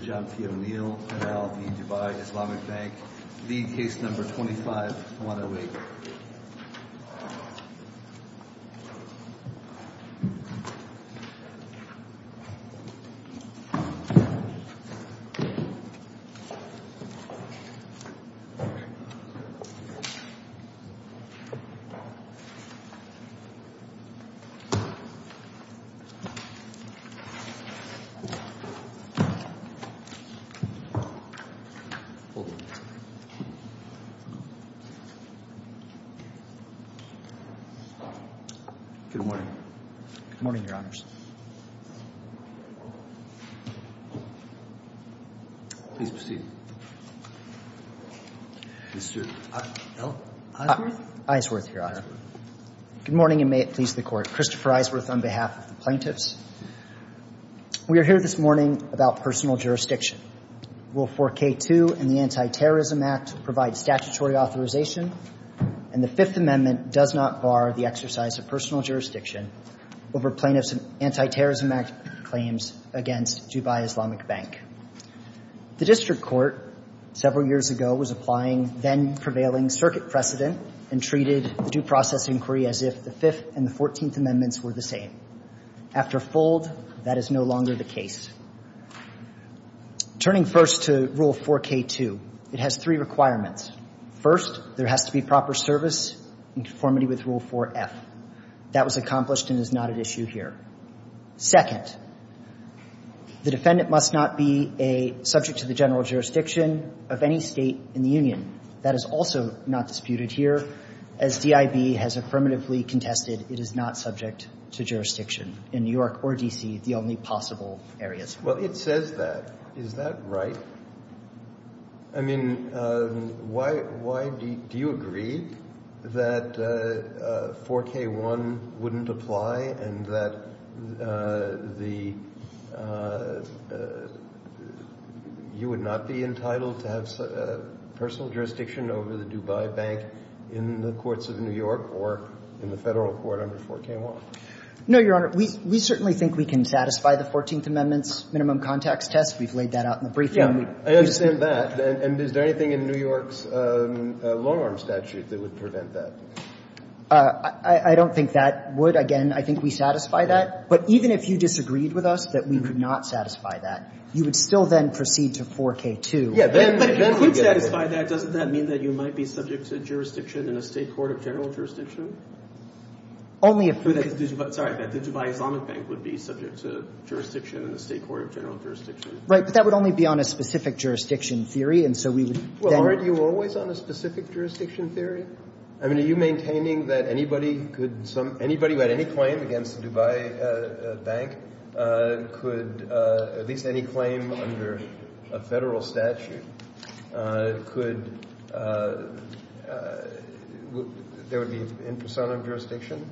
John P. O'Neill, NLB, Dubai, Islamic Bank, Lead Case No. 25, 108 Good morning. Good morning, Your Honors. Please proceed. Mr. Isworth? Isworth, Your Honor. Good morning, and may it please the Court. Christopher Isworth on behalf of the plaintiffs. We are here this morning about personal jurisdiction. Will 4K2 and the Anti-Terrorism Act provide statutory authorization? And the Fifth Amendment does not bar the exercise of personal jurisdiction over plaintiffs' Anti-Terrorism Act claims against Dubai Islamic Bank. The district court several years ago was applying then-prevailing circuit precedent and treated due process inquiry as if the Fifth and the Fourteenth Amendments were the same. After a fold, that is no longer the case. Turning first to Rule 4K2, it has three requirements. First, there has to be proper service in conformity with Rule 4F. That was accomplished and is not at issue here. Second, the defendant must not be a subject to the general jurisdiction of any state in the union. That is also not disputed here. As DIB has affirmatively contested, it is not subject to jurisdiction in New York or D.C., the only possible areas. Well, it says that. Is that right? I mean, why do you agree that 4K1 wouldn't apply and that the you would not be entitled to have personal jurisdiction over the Dubai Bank in the courts of New York or in the Federal court under 4K1? No, Your Honor. We certainly think we can satisfy the Fourteenth Amendment's minimum contacts test. We've laid that out in the briefing. Yeah, I understand that. And is there anything in New York's long-arm statute that would prevent that? I don't think that would. Again, I think we satisfy that. But even if you disagreed with us that we would not satisfy that, you would still then proceed to 4K2. Yeah. But if you could satisfy that, doesn't that mean that you might be subject to jurisdiction in a State court of general jurisdiction? Only if... Sorry, that the Dubai Islamic Bank would be subject to jurisdiction in a State court of general jurisdiction. Right. But that would only be on a specific jurisdiction theory, and so we would then... Well, aren't you always on a specific jurisdiction theory? I mean, are you maintaining that anybody could some — anybody who had any claim against the Dubai Bank could, at least any claim under a Federal statute, could — there would be in persona of jurisdiction?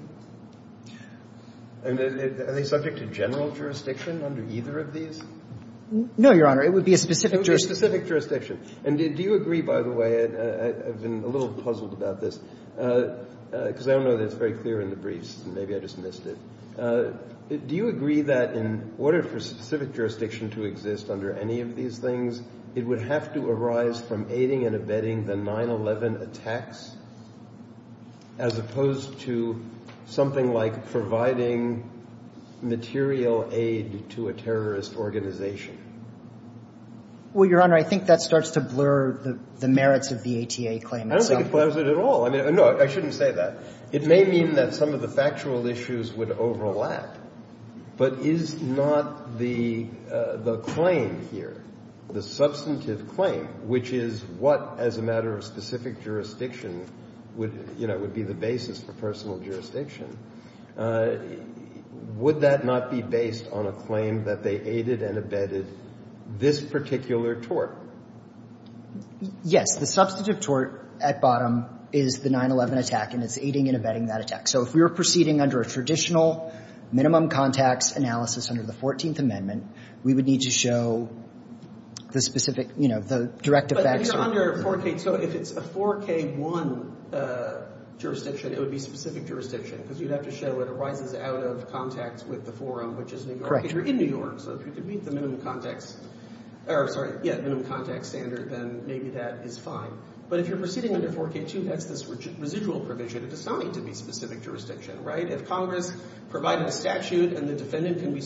And are they subject to general jurisdiction under either of these? No, Your Honor. It would be a specific jurisdiction. It would be a specific jurisdiction. And do you agree, by the way, I've been a little puzzled about this, because I don't know that it's very clear in the briefs, and maybe I just missed it. Do you agree that in order for specific jurisdiction to exist under any of these things, it would have to arise from aiding and abetting the 9-11 attacks as opposed to something like providing material aid to a terrorist organization? Well, Your Honor, I think that starts to blur the merits of the ATA claim itself. I don't think it blurs it at all. I mean, no, I shouldn't say that. It may mean that some of the factual issues would overlap, but is not the claim here, the substantive claim, which is what as a matter of specific jurisdiction would, you know, would be the basis for personal jurisdiction, would that not be based on a claim that they aided and abetted this particular tort? Yes. The substantive tort at bottom is the 9-11 attack, and it's aiding and abetting that attack. So if we were proceeding under a traditional minimum contacts analysis under the 14th Amendment, we would need to show the specific, you know, the direct effects. But if you're under a 4K, so if it's a 4K-1 jurisdiction, it would be specific jurisdiction, because you'd have to show it arises out of contacts with the forum, which is New York. If you're in New York, so if you can meet the minimum contacts, or sorry, yeah, minimum contacts standard, then maybe that is fine. But if you're proceeding under 4K-2, that's this residual provision. It does not need to be specific jurisdiction, right? If Congress provided a statute and the defendant can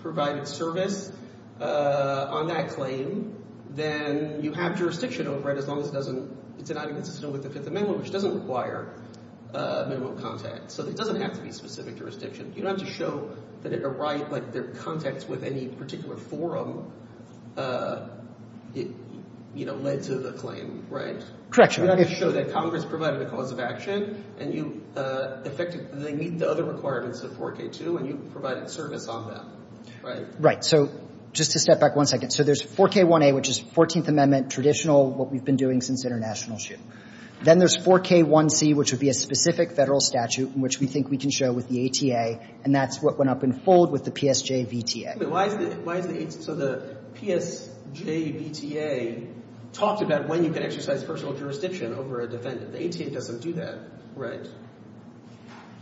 provide its service on that claim, then you have jurisdiction over it as long as it doesn't, it's not inconsistent with the Fifth Amendment, which doesn't require minimum contacts. So it doesn't have to be specific jurisdiction. You don't have to show that it arrived, like, their contacts with any particular forum, you know, led to the claim, right? Correct, Your Honor. You don't have to show that Congress provided a cause of action, and you effectively meet the other requirements of 4K-2, and you provided service on that, right? Right. So just to step back one second. So there's 4K-1A, which is 14th Amendment, traditional, what we've been doing since international shoot. Then there's 4K-1C, which would be a specific Federal statute in which we think we can show with the ATA, and that's what went up in fold with the PSJ-VTA. Wait. Why is the ATA? So the PSJ-VTA talks about when you can exercise personal jurisdiction over a defendant. The ATA doesn't do that, right?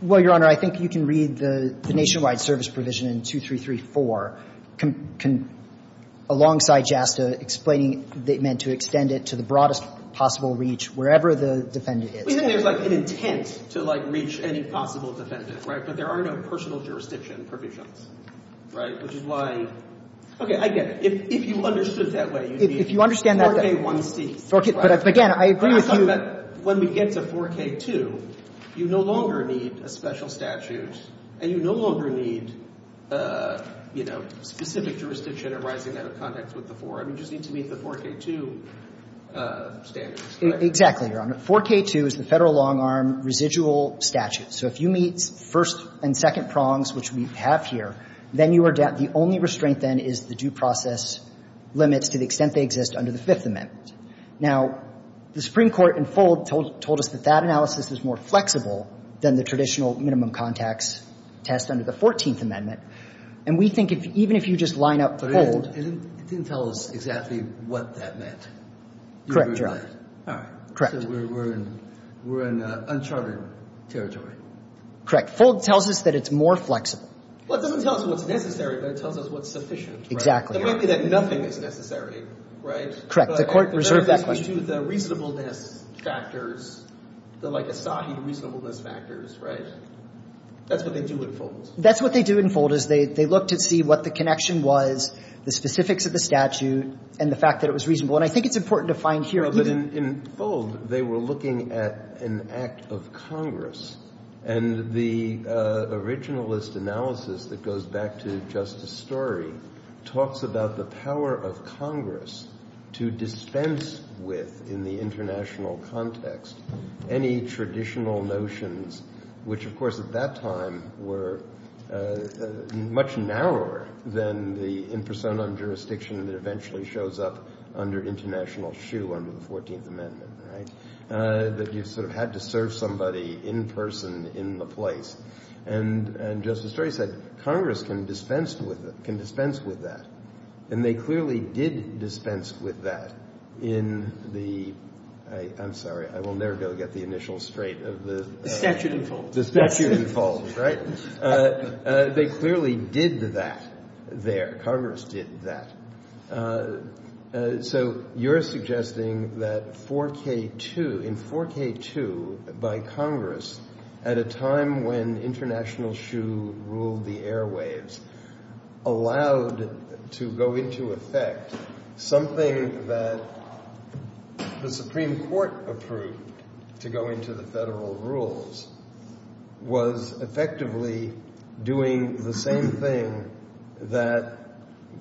Well, Your Honor, I think you can read the nationwide service provision in 2334 alongside JASTA explaining they meant to extend it to the broadest possible reach, wherever the defendant is. But then there's, like, an intent to, like, reach any possible defendant, right? But there are no personal jurisdiction provisions, right? Which is why — okay, I get it. If you understood it that way, you'd need 4K-1C. If you understand that — 4K — but, again, I agree with you. But I thought that when we get to 4K-2, you no longer need a special statute, and you no longer need, you know, specific jurisdiction arising out of context with the forum. You just need to meet the 4K-2 standards. Exactly, Your Honor. 4K-2 is the Federal long-arm residual statute. So if you meet first and second prongs, which we have here, then you are — the only restraint, then, is the due process limits to the extent they exist under the Fifth Amendment. Now, the Supreme Court in full told us that that analysis is more flexible than the traditional minimum context test under the Fourteenth Amendment. And we think if — even if you just line up — But it didn't tell us exactly what that meant. Correct, Your Honor. All right. Correct. So we're in uncharted territory. Correct. FOLD tells us that it's more flexible. Well, it doesn't tell us what's necessary, but it tells us what's sufficient. Exactly. It may be that nothing is necessary, right? Correct. The Court reserved that question. But if you do the reasonableness factors, the, like, Asahi reasonableness factors, right, that's what they do in FOLD. That's what they do in FOLD, is they look to see what the connection was, the specifics of the statute, and the fact that it was reasonable. And I think it's important to find here — No, but in FOLD, they were looking at an act of Congress. And the originalist analysis that goes back to Justice Story talks about the power of Congress to dispense with, in the international context, any traditional notions, which, of course, at that time were much narrower than the in personam jurisdiction that eventually shows up under international shoe under the 14th Amendment, right, that you sort of had to serve somebody in person in the place. And Justice Story said Congress can dispense with that. And they clearly did dispense with that in the — I'm sorry, I will never go get the initial straight of the — The statute in FOLD. The statute in FOLD, right. They clearly did that there. Congress did that. So you're suggesting that 4K2, in 4K2, by Congress, at a time when international shoe ruled the airwaves, allowed to go into effect something that the Supreme Court approved to go into the Federal rules, was effectively doing the same thing that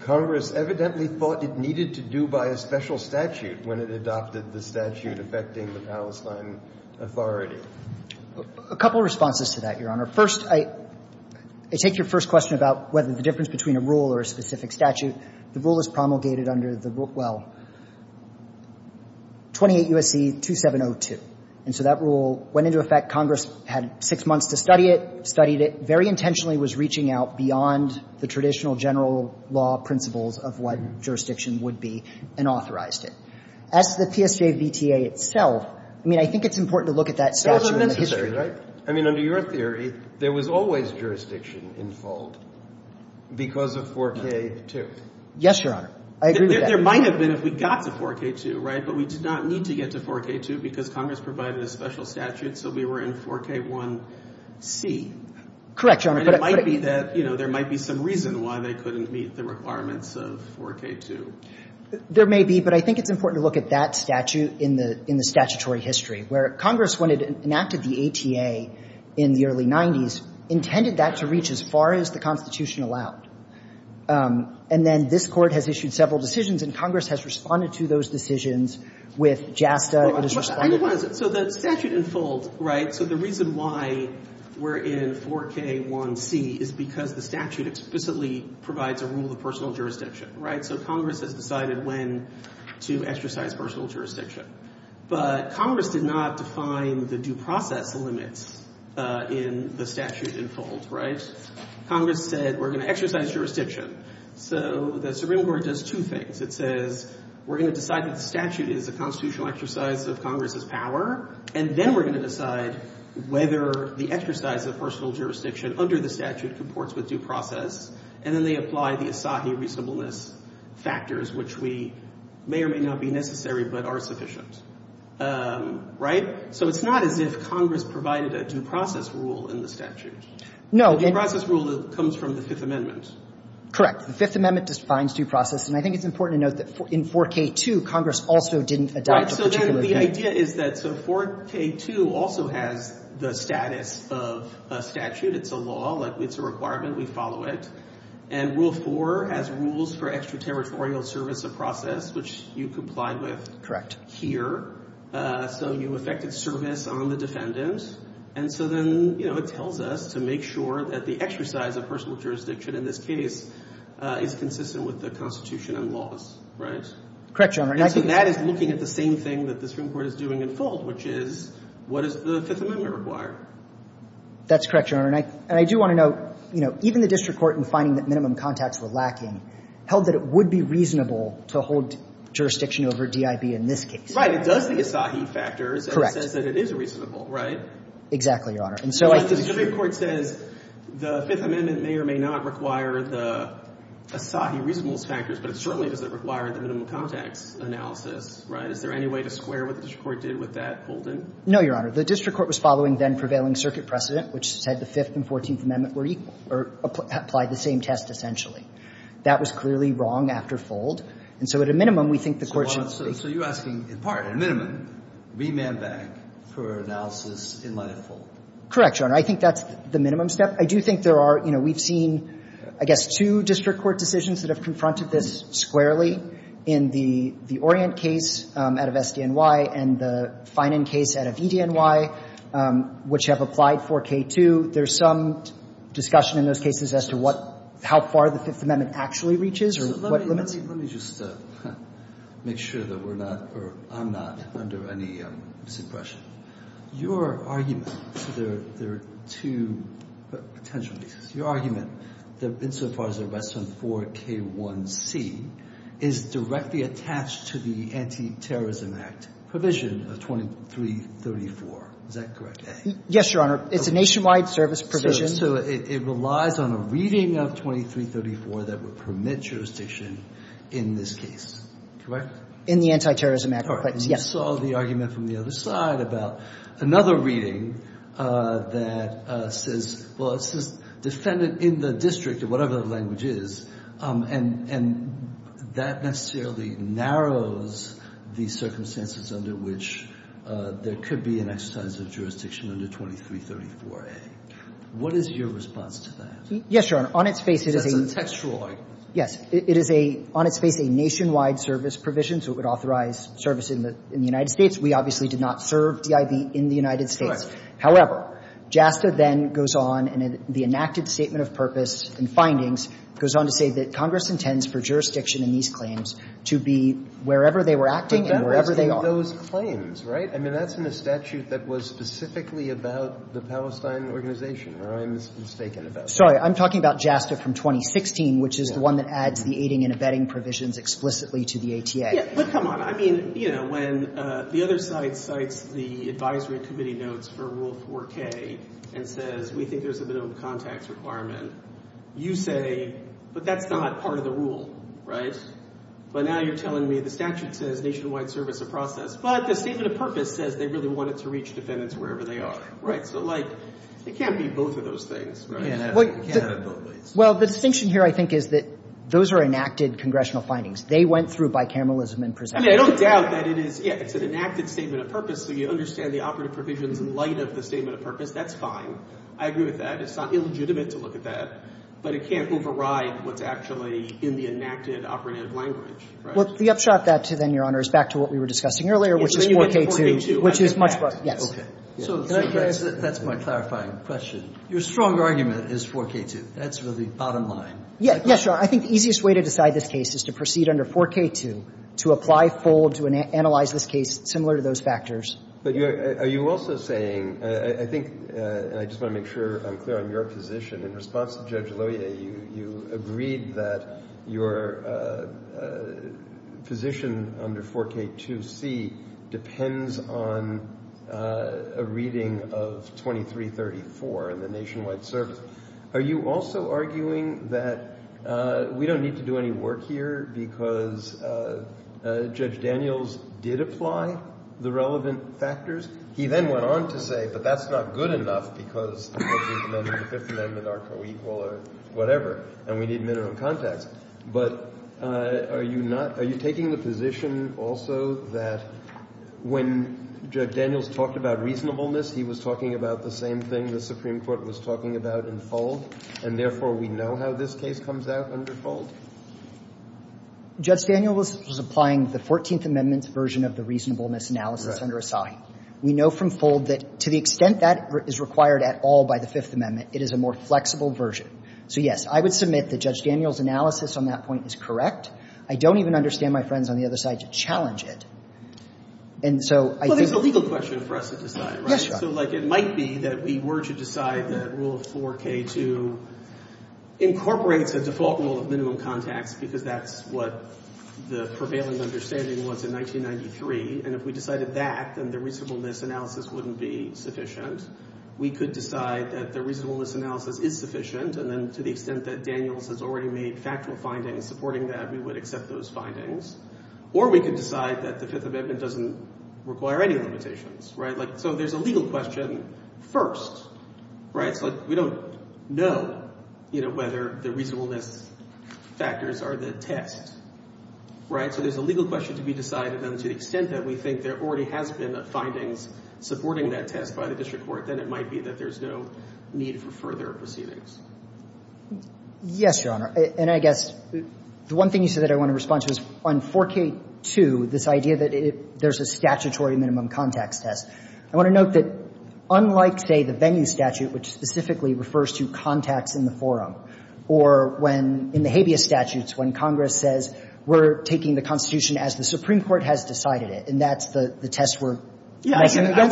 Congress evidently thought it needed to do by a special statute when it adopted the statute affecting the Palestine Authority. A couple of responses to that, Your Honor. First, I take your first question about whether the difference between a rule or a specific statute. The rule is promulgated under the — well, 28 U.S.C. 2702. And so that rule went into effect. Congress had six months to study it, studied it, very intentionally was reaching out beyond the traditional general law principles of what jurisdiction would be, and authorized it. As to the PSJVTA itself, I mean, I think it's important to look at that statute in the history. It wasn't necessary, right? I mean, under your theory, there was always jurisdiction in FOLD because of 4K2. Yes, Your Honor. I agree with that. There might have been if we got to 4K2, right? But we did not need to get to 4K2 because Congress provided a special statute, so we were in 4K1C. Correct, Your Honor. But it might be that, you know, there might be some reason why they couldn't meet the requirements of 4K2. There may be, but I think it's important to look at that statute in the statutory history, where Congress, when it enacted the ATA in the early 90s, intended that to reach as far as the Constitution allowed. And then this Court has issued several decisions, and Congress has responded to those decisions with JASTA. It has responded to those decisions. I know what it is. So the statute in FOLD, right, so the reason why we're in 4K1C is because the statute explicitly provides a rule of personal jurisdiction, right? So Congress has decided when to exercise personal jurisdiction. But Congress did not define the due process limits in the statute in FOLD, right? Congress said we're going to exercise jurisdiction. So the Supreme Court does two things. It says we're going to decide that the statute is a constitutional exercise of Congress's power, and then we're going to decide whether the exercise of personal jurisdiction under the statute comports with due process. And then they apply the Asahi reasonableness factors, which may or may not be necessary but are sufficient, right? So it's not as if Congress provided a due process rule in the statute. No. The due process rule comes from the Fifth Amendment. Correct. The Fifth Amendment defines due process. And I think it's important to note that in 4K2, Congress also didn't adopt a particular Right. So then the idea is that so 4K2 also has the status of a statute. It's a law. It's a requirement. We follow it. And Rule 4 has rules for extraterritorial service of process, which you complied with here. So you affected service on the defendant. And so then, you know, it tells us to make sure that the exercise of personal jurisdiction in this case is consistent with the Constitution and laws, right? Correct, Your Honor. And so that is looking at the same thing that the Supreme Court is doing in fault, which is what does the Fifth Amendment require? That's correct, Your Honor. And I do want to note, you know, even the district court in finding that minimum contacts were lacking held that it would be reasonable to hold jurisdiction over DIB in this case. Right. It does the Asahi factors. Correct. The district court says that it is reasonable, right? Exactly, Your Honor. And so I think the district court says the Fifth Amendment may or may not require the Asahi reasonableness factors, but it certainly doesn't require the minimum contacts analysis, right? Is there any way to square what the district court did with that Holden? No, Your Honor. The district court was following then prevailing circuit precedent, which said the Fifth and Fourteenth Amendment were equal or applied the same test essentially. That was clearly wrong after Fold. And so at a minimum, we think the court should speak. So you're asking in part, at a minimum, remand bank for analysis in light of Fold? Correct, Your Honor. I think that's the minimum step. I do think there are, you know, we've seen, I guess, two district court decisions that have confronted this squarely in the Orient case out of SDNY and the Finan case out of EDNY, which have applied 4K2. There's some discussion in those cases as to what – how far the Fifth Amendment actually reaches or what limits. Let me just make sure that we're not – or I'm not under any misimpression. Your argument – so there are two potential reasons. Your argument that insofar as the rest of 4K1C is directly attached to the Anti-Terrorism Act provision of 2334, is that correct? Yes, Your Honor. It's a nationwide service provision. So it relies on a reading of 2334 that would permit jurisdiction in this case. Correct? In the Anti-Terrorism Act. Correct. Yes. And you saw the argument from the other side about another reading that says – well, it says defendant in the district or whatever the language is, and that necessarily narrows the circumstances under which there could be an exercise of jurisdiction under 2334A. What is your response to that? Yes, Your Honor. On its face, it is a – That's a textual argument. Yes. It is a – on its face, a nationwide service provision. So it would authorize service in the United States. We obviously did not serve DIB in the United States. Correct. However, JASTA then goes on and the enacted statement of purpose and findings goes on to say that Congress intends for jurisdiction in these claims to be wherever they were acting and wherever they are. But that was in those claims, right? I mean, that's in the statute that was specifically about the Palestine organization or I'm mistaken about that. Sorry. I'm talking about JASTA from 2016, which is the one that adds the aiding and abetting provisions explicitly to the ATA. Yes. But come on. I mean, you know, when the other side cites the advisory committee notes for Rule 4K and says we think there's a minimum contacts requirement, you say, but that's not part of the rule, right? But now you're telling me the statute says nationwide service of process. But the statement of purpose says they really wanted to reach defendants wherever they are, right? So, like, it can't be both of those things, right? It can't have both ways. Well, the distinction here, I think, is that those are enacted congressional findings. They went through bicameralism and presumption. I mean, I don't doubt that it is, yes, it's an enacted statement of purpose, so you understand the operative provisions in light of the statement of purpose. That's fine. I agree with that. It's not illegitimate to look at that. But it can't override what's actually in the enacted operative language, right? Well, the upshot of that, then, Your Honor, is back to what we were discussing earlier, which is 4K2, which is much more. So that's my clarifying question. Your strong argument is 4K2. That's really bottom line. Yes, Your Honor. I think the easiest way to decide this case is to proceed under 4K2, to apply, fold, to analyze this case similar to those factors. But are you also saying, I think, and I just want to make sure I'm clear on your position, in response to Judge Lohier, you agreed that your position under 4K2C depends on a reading of 2334 in the Nationwide Service. Are you also arguing that we don't need to do any work here because Judge Daniels did apply the relevant factors? He then went on to say, but that's not good enough because the 13th Amendment and the Fifth Amendment are co-equal or whatever, and we need minimum context. But are you not – are you taking the position also that when Judge Daniels talked about reasonableness, he was talking about the same thing the Supreme Court was talking about in fold, and therefore we know how this case comes out under fold? Judge Daniels was applying the 14th Amendment's version of the reasonableness analysis under Asai. We know from fold that to the extent that is required at all by the Fifth Amendment, it is a more flexible version. So, yes, I would submit that Judge Daniels' analysis on that point is correct. I don't even understand my friends on the other side to challenge it. And so I think – Well, there's a legal question for us to decide, right? Yes, Your Honor. So, like, it might be that we were to decide that rule of 4K2 incorporates a default rule of minimum context because that's what the prevailing understanding was in 1993. And if we decided that, then the reasonableness analysis wouldn't be sufficient. We could decide that the reasonableness analysis is sufficient, and then to the extent that Daniels has already made factual findings supporting that, we would accept those findings. Or we could decide that the Fifth Amendment doesn't require any limitations, right? Like, so there's a legal question first, right? So, like, we don't know, you know, whether the reasonableness factors are the test, right? So there's a legal question to be decided, and to the extent that we think there already has been findings supporting that test by the district court, then it might be that there's no need for further proceedings. Yes, Your Honor. And I guess the one thing you said that I want to respond to is on 4K2, this idea that there's a statutory minimum context test. I want to note that unlike, say, the venue statute, which specifically refers to contacts in the forum, or when in the habeas statutes, when Congress says we're taking the Constitution as the Supreme Court has decided it, and that's the test we're making against it. I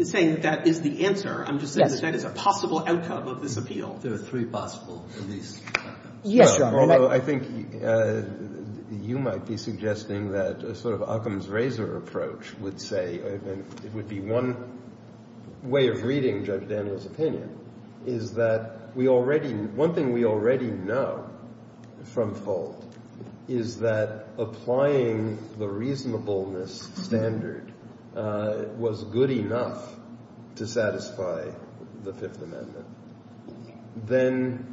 wasn't saying that that is the answer. I'm just saying that that is a possible outcome of this appeal. There are three possible, at least. Yes, Your Honor. Although I think you might be suggesting that a sort of Occam's razor approach would say, it would be one way of reading Judge Daniels' opinion, is that we already know from Folt is that applying the reasonableness standard was good enough to satisfy the Fifth Amendment, then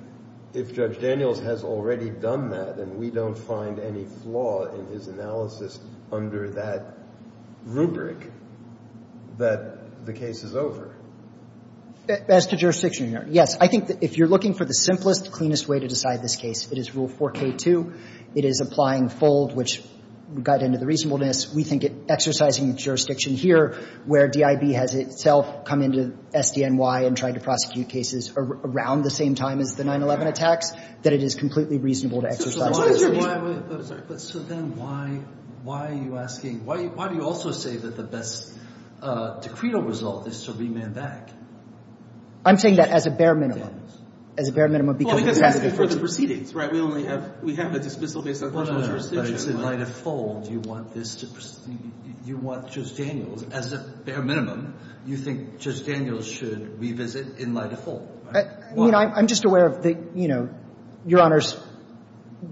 if Judge Daniels has already done that and we don't find any flaw in his analysis under that rubric, that the case is over. As to jurisdiction, Your Honor, yes. I think that if you're looking for the simplest, cleanest way to decide this case, it is Rule 4K2. It is applying Folt, which got into the reasonableness. We think exercising jurisdiction here, where DIB has itself come into SDNY and tried to prosecute cases around the same time as the 9-11 attacks, that it is completely reasonable to exercise that jurisdiction. But so then why are you asking – why do you also say that the best decreed result is to remand back? I'm saying that as a bare minimum. As a bare minimum because of the fact that it's precedence, right? We only have – we have a dismissal based on constitutional jurisdiction. But just in light of Folt, you want this to – you want Judge Daniels, as a bare minimum, you think Judge Daniels should revisit in light of Folt, right? I mean, I'm just aware of the, you know, Your Honors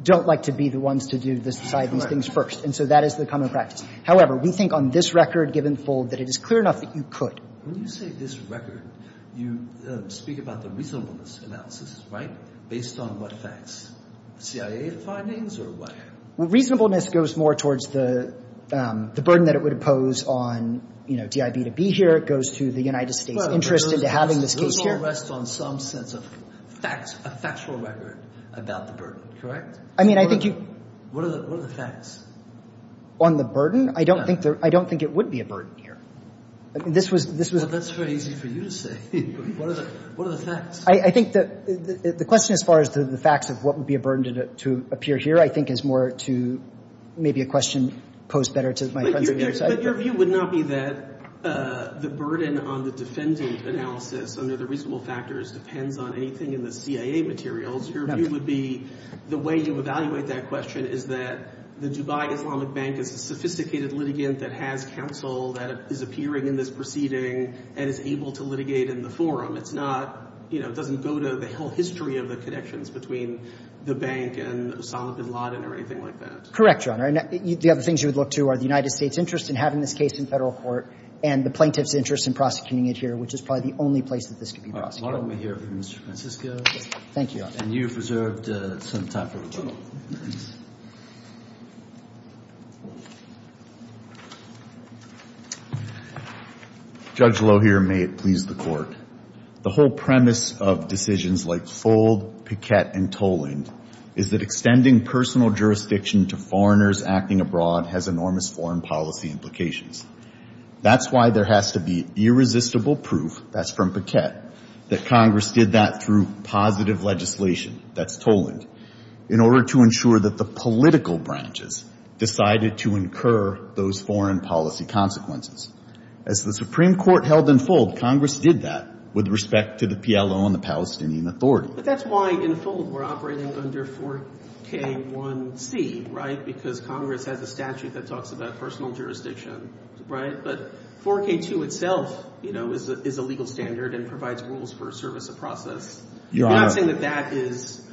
don't like to be the ones to do this side of these things first. And so that is the common practice. However, we think on this record given Folt that it is clear enough that you could. When you say this record, you speak about the reasonableness analysis, right? Based on what facts? CIA findings or what? Well, reasonableness goes more towards the burden that it would impose on, you know, DIB to be here. It goes to the United States' interest into having this case here. Those all rest on some sense of facts, a factual record about the burden, correct? I mean, I think you. What are the facts? On the burden? Yeah. I don't think there – I don't think it would be a burden here. This was. Well, that's very easy for you to say. What are the facts? I think the question as far as the facts of what would be a burden to appear here I think is more to maybe a question posed better to my friends on your side. But your view would not be that the burden on the defendant analysis under the reasonable factors depends on anything in the CIA materials. Your view would be the way you evaluate that question is that the Dubai Islamic Bank is a sophisticated litigant that has counsel that is appearing in this proceeding and is able to litigate in the forum. It's not, you know, it doesn't go to the whole history of the connections between the bank and Osama bin Laden or anything like that. Correct, Your Honor. The other things you would look to are the United States' interest in having this case in federal court and the plaintiff's interest in prosecuting it here, which is probably the only place that this could be prosecuted. All right. We'll hear from Mr. Francisco. Thank you, Your Honor. And you've reserved some time for the panel. Judge Lohier, may it please the Court. The whole premise of decisions like Fold, Paquette, and Toland is that extending personal jurisdiction to foreigners acting abroad has enormous foreign policy implications. That's why there has to be irresistible proof, that's from Paquette, that Congress did that through positive legislation, that's Toland, in order to ensure that the political branches decided to incur those foreign policy consequences. As the Supreme Court held in Fold, Congress did that with respect to the PLO and the Palestinian Authority. But that's why in Fold we're operating under 4K1C, right, because Congress has a statute that talks about personal jurisdiction, right, but 4K2 itself, you know, is a legal standard and provides rules for service of process. Your Honor. You're not saying that that is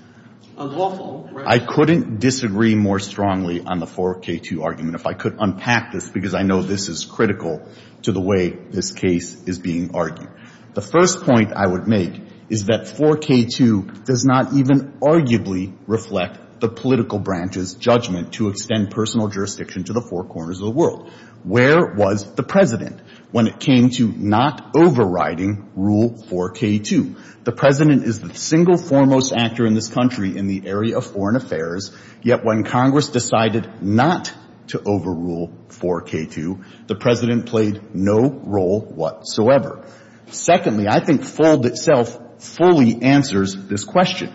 unlawful, right? I couldn't disagree more strongly on the 4K2 argument if I could unpack this, because I know this is critical to the way this case is being argued. The first point I would make is that 4K2 does not even arguably reflect the political branches' judgment to extend personal jurisdiction to the four corners of the world. Where was the President when it came to not overriding Rule 4K2? The President is the single foremost actor in this country in the area of foreign affairs, yet when Congress decided not to overrule 4K2, the President played no role whatsoever. Secondly, I think Fold itself fully answers this question.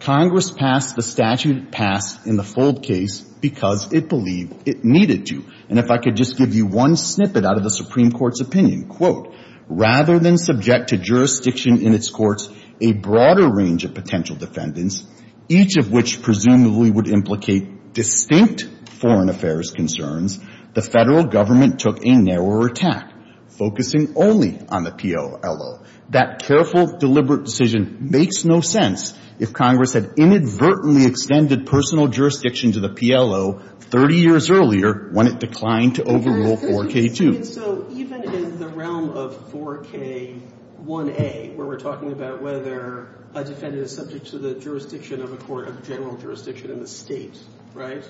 Congress passed the statute it passed in the Fold case because it believed it needed to. And if I could just give you one snippet out of the Supreme Court's opinion, quote, rather than subject to jurisdiction in its courts a broader range of potential defendants, each of which presumably would implicate distinct foreign affairs concerns, the Federal Government took a narrower attack, focusing only on the PLO. That careful, deliberate decision makes no sense if Congress had inadvertently extended personal jurisdiction to the PLO 30 years earlier when it declined to overrule 4K2. So even in the realm of 4K1A, where we're talking about whether a defendant is subject to the jurisdiction of a court of general jurisdiction in the state, right?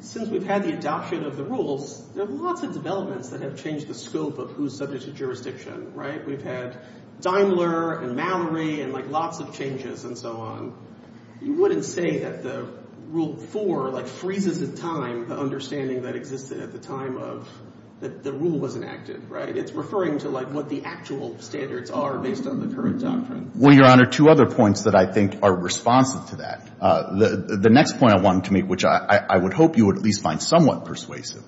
Since we've had the adoption of the rules, there are lots of developments that have changed the scope of who's subject to jurisdiction, right? We've had Daimler and Mallory and, like, lots of changes and so on. You wouldn't say that the Rule 4, like, freezes the time, the understanding that existed at the time of that the rule was enacted, right? It's referring to, like, what the actual standards are based on the current doctrine. Well, Your Honor, two other points that I think are responsive to that. The next point I wanted to make, which I would hope you would at least find somewhat persuasive,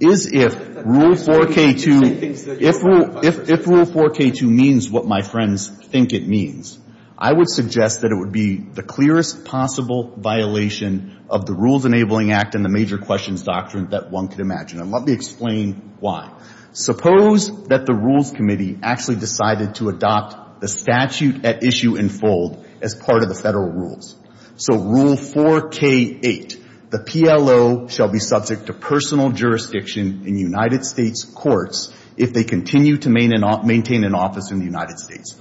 is if Rule 4K2, if Rule 4K2 means what my friends think it means, I would suggest that it would be the clearest possible violation of the Rules Enabling Act and the Major Questions Doctrine that one could imagine. And let me explain why. Suppose that the Rules Committee actually decided to adopt the statute at issue and fold as part of the federal rules. So Rule 4K8, the PLO shall be subject to personal jurisdiction in United States courts if they continue to maintain an office in the United States.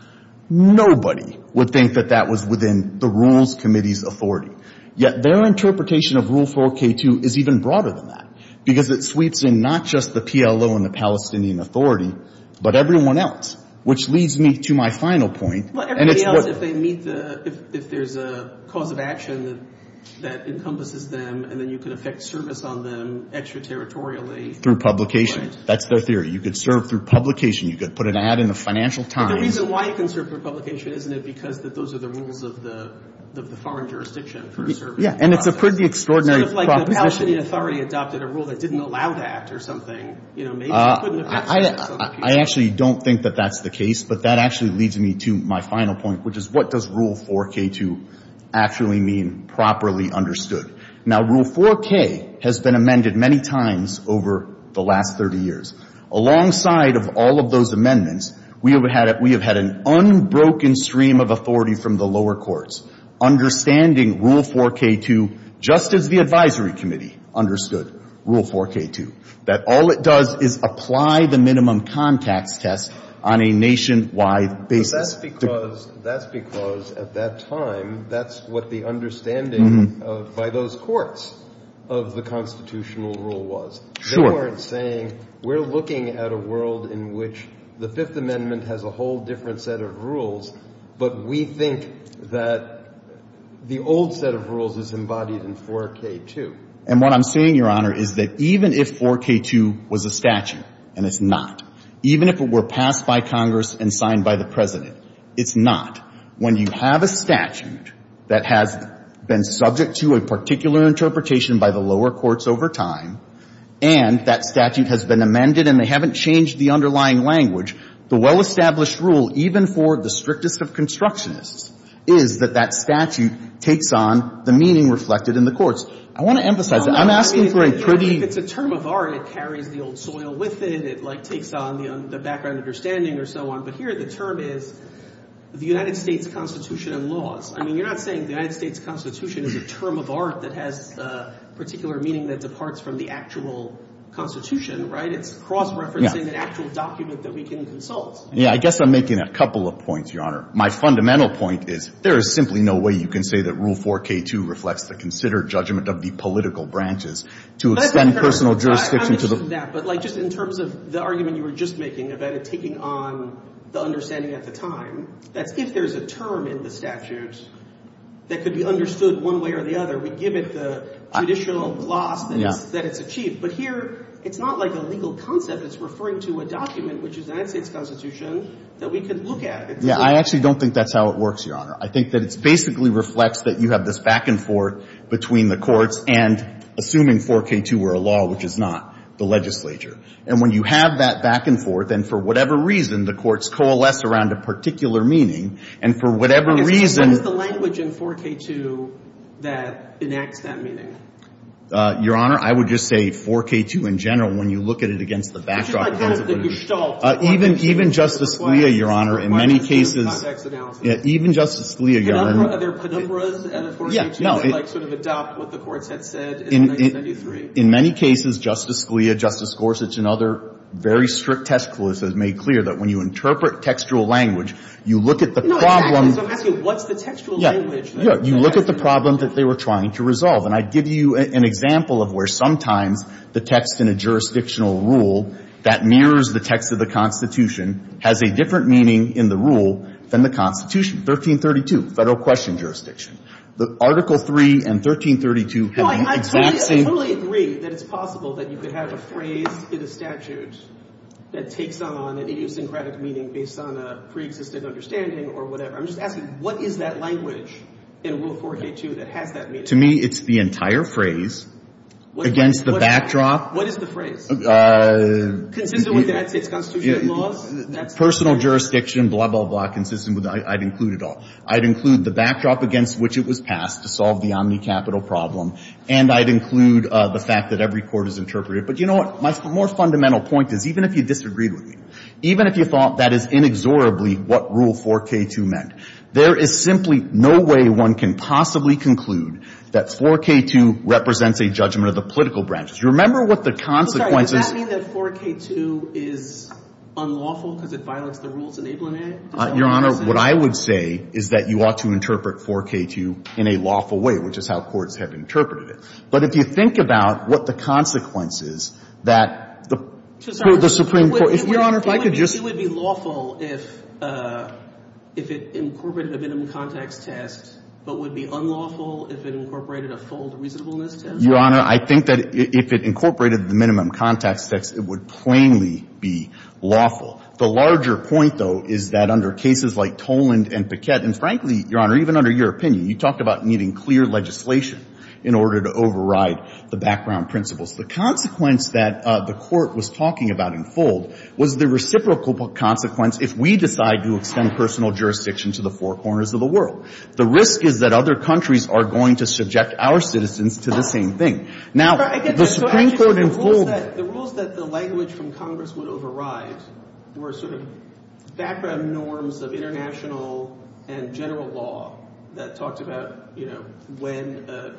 Nobody would think that that was within the Rules Committee's authority. Yet their interpretation of Rule 4K2 is even broader than that, because it sweeps in not just the PLO and the Palestinian Authority, but everyone else, which leads me to my final point, and it's what — Well, everybody else, if they meet the — if there's a cause of action that encompasses them and then you can effect service on them extraterritorially — Through publication. Right. That's their theory. You could serve through publication. You could put an ad in the Financial Times. But the reason why you can serve through publication, isn't it because that those are the rules of the foreign jurisdiction for serving? Yeah, and it's a pretty extraordinary proposition. Sort of like the Palestinian Authority adopted a rule that didn't allow to act or something. You know, maybe it couldn't have been served to some people. I actually don't think that that's the case, but that actually leads me to my final point, which is what does Rule 4K2 actually mean properly understood? Now, Rule 4K has been amended many times over the last 30 years. Alongside of all of those amendments, we have had an unbroken stream of authority from the lower courts understanding Rule 4K2 just as the Advisory Committee understood Rule 4K2, that all it does is apply the minimum contacts test on a nationwide basis. But that's because — that's because at that time, that's what the understanding by those courts of the constitutional rule was. Sure. The courts saying we're looking at a world in which the Fifth Amendment has a whole different set of rules, but we think that the old set of rules is embodied in 4K2. And what I'm saying, Your Honor, is that even if 4K2 was a statute, and it's not, even if it were passed by Congress and signed by the President, it's not. When you have a statute that has been subject to a particular interpretation by the lower courts over time, and that statute has been amended and they haven't changed the underlying language, the well-established rule, even for the strictest of constructionists, is that that statute takes on the meaning reflected in the courts. I want to emphasize that. I'm asking for a pretty — If it's a term of art, it carries the old soil with it. It, like, takes on the background understanding or so on. But here the term is the United States Constitution and laws. I mean, you're not saying the United States Constitution is a term of art that has a particular meaning that departs from the actual Constitution, right? It's cross-referencing an actual document that we can consult. I guess I'm making a couple of points, Your Honor. My fundamental point is there is simply no way you can say that Rule 4K2 reflects the considered judgment of the political branches to extend personal jurisdiction to the — I understand that. But, like, just in terms of the argument you were just making about it taking on the understanding at the time, that's if there's a term in the statute that could be understood one way or the other, we give it the judicial gloss that it's achieved. But here it's not like a legal concept. It's referring to a document, which is the United States Constitution, that we could look at. Yeah. I actually don't think that's how it works, Your Honor. I think that it basically reflects that you have this back-and-forth between the courts and, assuming 4K2 were a law, which is not, the legislature. And when you have that back-and-forth, and for whatever reason, the courts coalesce around a particular meaning, and for whatever reason — What is the language in 4K2 that enacts that meaning? Your Honor, I would just say 4K2 in general, when you look at it against the backdrop of — But you don't know that you're stalled. Even Justice Scalia, Your Honor, in many cases — It requires some context analysis. Even Justice Scalia, Your Honor — Are there penumbras in 4K2 that, like, sort of adopt what the courts had said in 1993? In many cases, Justice Scalia, Justice Gorsuch, and other very strict test clues have made clear that when you interpret textual language, you look at the problem — So I'm asking, what's the textual language that — Yeah. Yeah. You look at the problem that they were trying to resolve. And I give you an example of where sometimes the text in a jurisdictional rule that mirrors the text of the Constitution has a different meaning in the rule than the Constitution. 1332, Federal Question Jurisdiction. The Article III and 1332 have been — I totally agree that it's possible that you could have a phrase in a statute that takes on an idiosyncratic meaning based on a preexistent understanding or whatever. I'm just asking, what is that language in Rule 4K2 that has that meaning? To me, it's the entire phrase against the backdrop — What is the phrase? Consistent with United States constitutional laws? Personal jurisdiction, blah, blah, blah, consistent with — I'd include it all. I'd include the backdrop against which it was passed to solve the omnicapital problem. And I'd include the fact that every court has interpreted it. But you know what? My more fundamental point is, even if you disagreed with me, even if you thought that is inexorably what Rule 4K2 meant, there is simply no way one can possibly conclude that 4K2 represents a judgment of the political branches. You remember what the consequences — Does that mean that 4K2 is unlawful because it violates the rules enabling it? Your Honor, what I would say is that you ought to interpret 4K2 in a lawful way, which is how courts have interpreted it. But if you think about what the consequences that the Supreme Court — Your Honor, if I could just — It would be lawful if it incorporated a minimum context test, but would be unlawful if it incorporated a full reasonableness test? Your Honor, I think that if it incorporated the minimum context test, it would plainly be lawful. The larger point, though, is that under cases like Toland and Paquette, and frankly, Your Honor, even under your opinion, you talked about needing clear legislation in order to override the background principles. The consequence that the Court was talking about in Fold was the reciprocal consequence if we decide to extend personal jurisdiction to the four corners of the world. The risk is that other countries are going to subject our citizens to the same thing. Now, the Supreme Court in Fold — There were sort of background norms of international and general law that talked about, you know, when a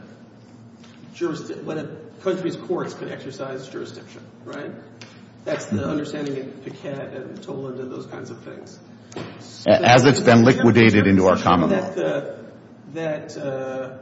country's courts could exercise jurisdiction, right? That's the understanding in Paquette and Toland and those kinds of things. As it's been liquidated into our common law. That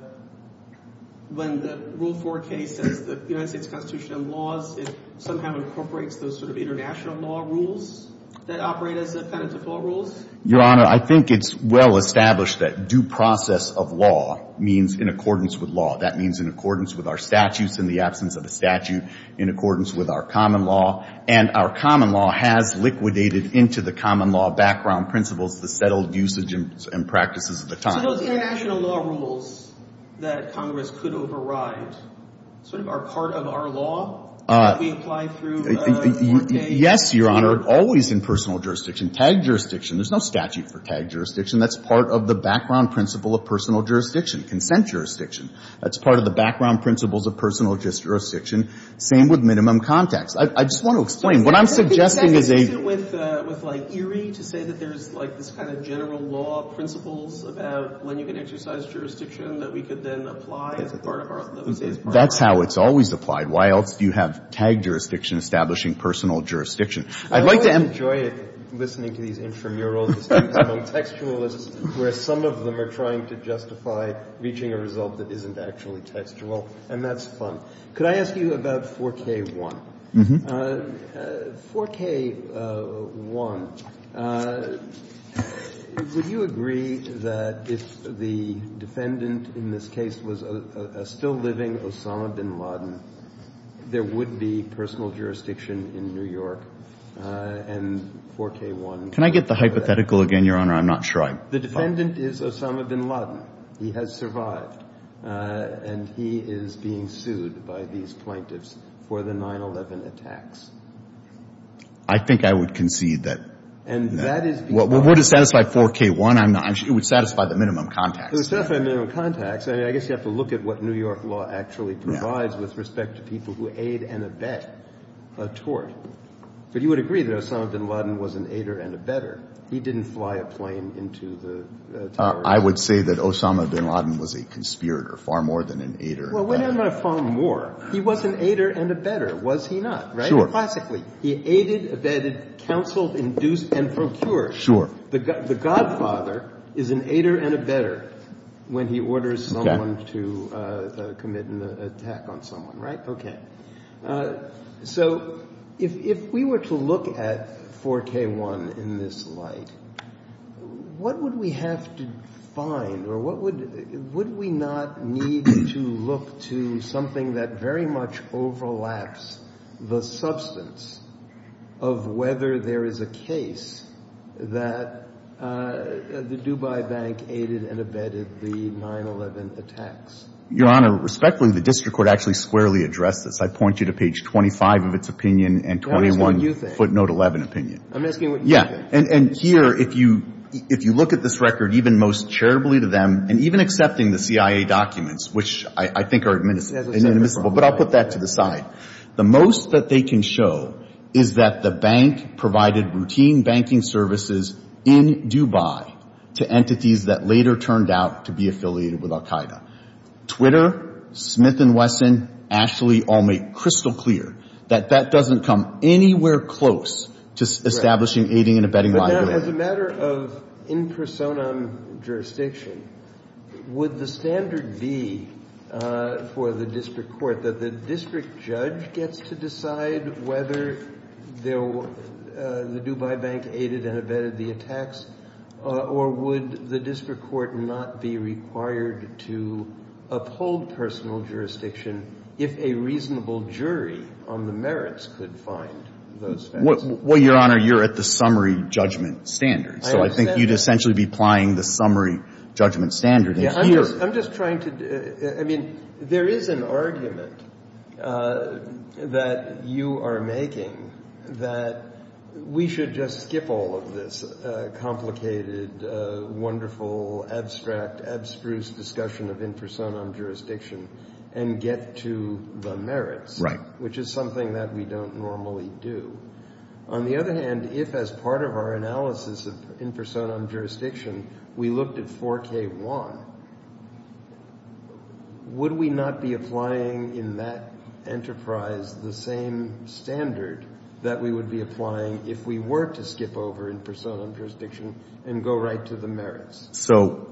when the Rule 4 case says that the United States Constitution and laws, it somehow incorporates those sort of international law rules that operate as a kind of default rules? Your Honor, I think it's well established that due process of law means in accordance with law. That means in accordance with our statutes in the absence of a statute, in accordance with our common law. And our common law has liquidated into the common law background principles the settled usage and practices of the time. So those international law rules that Congress could override sort of are part of our common law that we apply through today. Yes, Your Honor. Always in personal jurisdiction. TAG jurisdiction. There's no statute for TAG jurisdiction. That's part of the background principle of personal jurisdiction. Consent jurisdiction. That's part of the background principles of personal jurisdiction. Same with minimum context. I just want to explain. What I'm suggesting is a — Isn't there a definition with, like, Erie to say that there's, like, this kind of general law principles about when you can exercise jurisdiction that we could then apply as part of our — That's how it's always applied. Why else do you have TAG jurisdiction establishing personal jurisdiction? I'd like to — I always enjoy it, listening to these intramurals among textualists, where some of them are trying to justify reaching a result that isn't actually textual. And that's fun. Could I ask you about 4K-1? Mm-hmm. 4K-1. Would you agree that if the defendant in this case was a still-living Osama bin Laden, there would be personal jurisdiction in New York, and 4K-1 — Can I get the hypothetical again, Your Honor? I'm not sure I — The defendant is Osama bin Laden. He has survived. And he is being sued by these plaintiffs for the 9-11 attacks. I think I would concede that — And that is because — Would it satisfy 4K-1? It would satisfy the minimum contacts. It would satisfy the minimum contacts. I mean, I guess you have to look at what New York law actually provides with respect to people who aid and abet a tort. But you would agree that Osama bin Laden was an aider and abetter. He didn't fly a plane into the towers. I would say that Osama bin Laden was a conspirator far more than an aider and abetter. Well, we're talking about far more. He was an aider and abetter, was he not? Sure. Classically. He aided, abetted, counseled, induced, and procured. Sure. The godfather is an aider and abetter when he orders someone to commit an attack on someone. Right? Okay. So if we were to look at 4K-1 in this light, what would we have to find, or would we not need to look to something that very much overlaps the substance of whether there is a case that the Dubai Bank aided and abetted the 9-11 attacks? Your Honor, respectfully, the district court actually squarely addressed this. I point you to page 25 of its opinion and 21 footnote 11 opinion. I'm asking what you think. Yeah. And here, if you look at this record, even most charitably to them, and even accepting the CIA documents, which I think are inadmissible, but I'll put that to the side. The most that they can show is that the bank provided routine banking services in Dubai to entities that later turned out to be affiliated with al-Qaeda. Twitter, Smith & Wesson, Ashley, all make crystal clear that that doesn't come anywhere close to establishing aiding and abetting liability. But now, as a matter of in personam jurisdiction, would the standard be for the district court that the district judge gets to decide whether the Dubai Bank aided and abetted the attacks, or would the district court not be required to uphold personal jurisdiction if a reasonable jury on the merits could find those facts? Well, Your Honor, you're at the summary judgment standard. I understand. So I think you'd essentially be applying the summary judgment standard. Yeah, I'm just trying to do – I mean, there is an argument that you are making that we should just skip all of this complicated, wonderful, abstract, abstruse discussion of in personam jurisdiction and get to the merits, which is something that we don't normally do. On the other hand, if as part of our analysis of in personam jurisdiction we looked at 4K1, would we not be applying in that enterprise the same standard that we would be applying if we were to skip over in personam jurisdiction and go right to the merits? So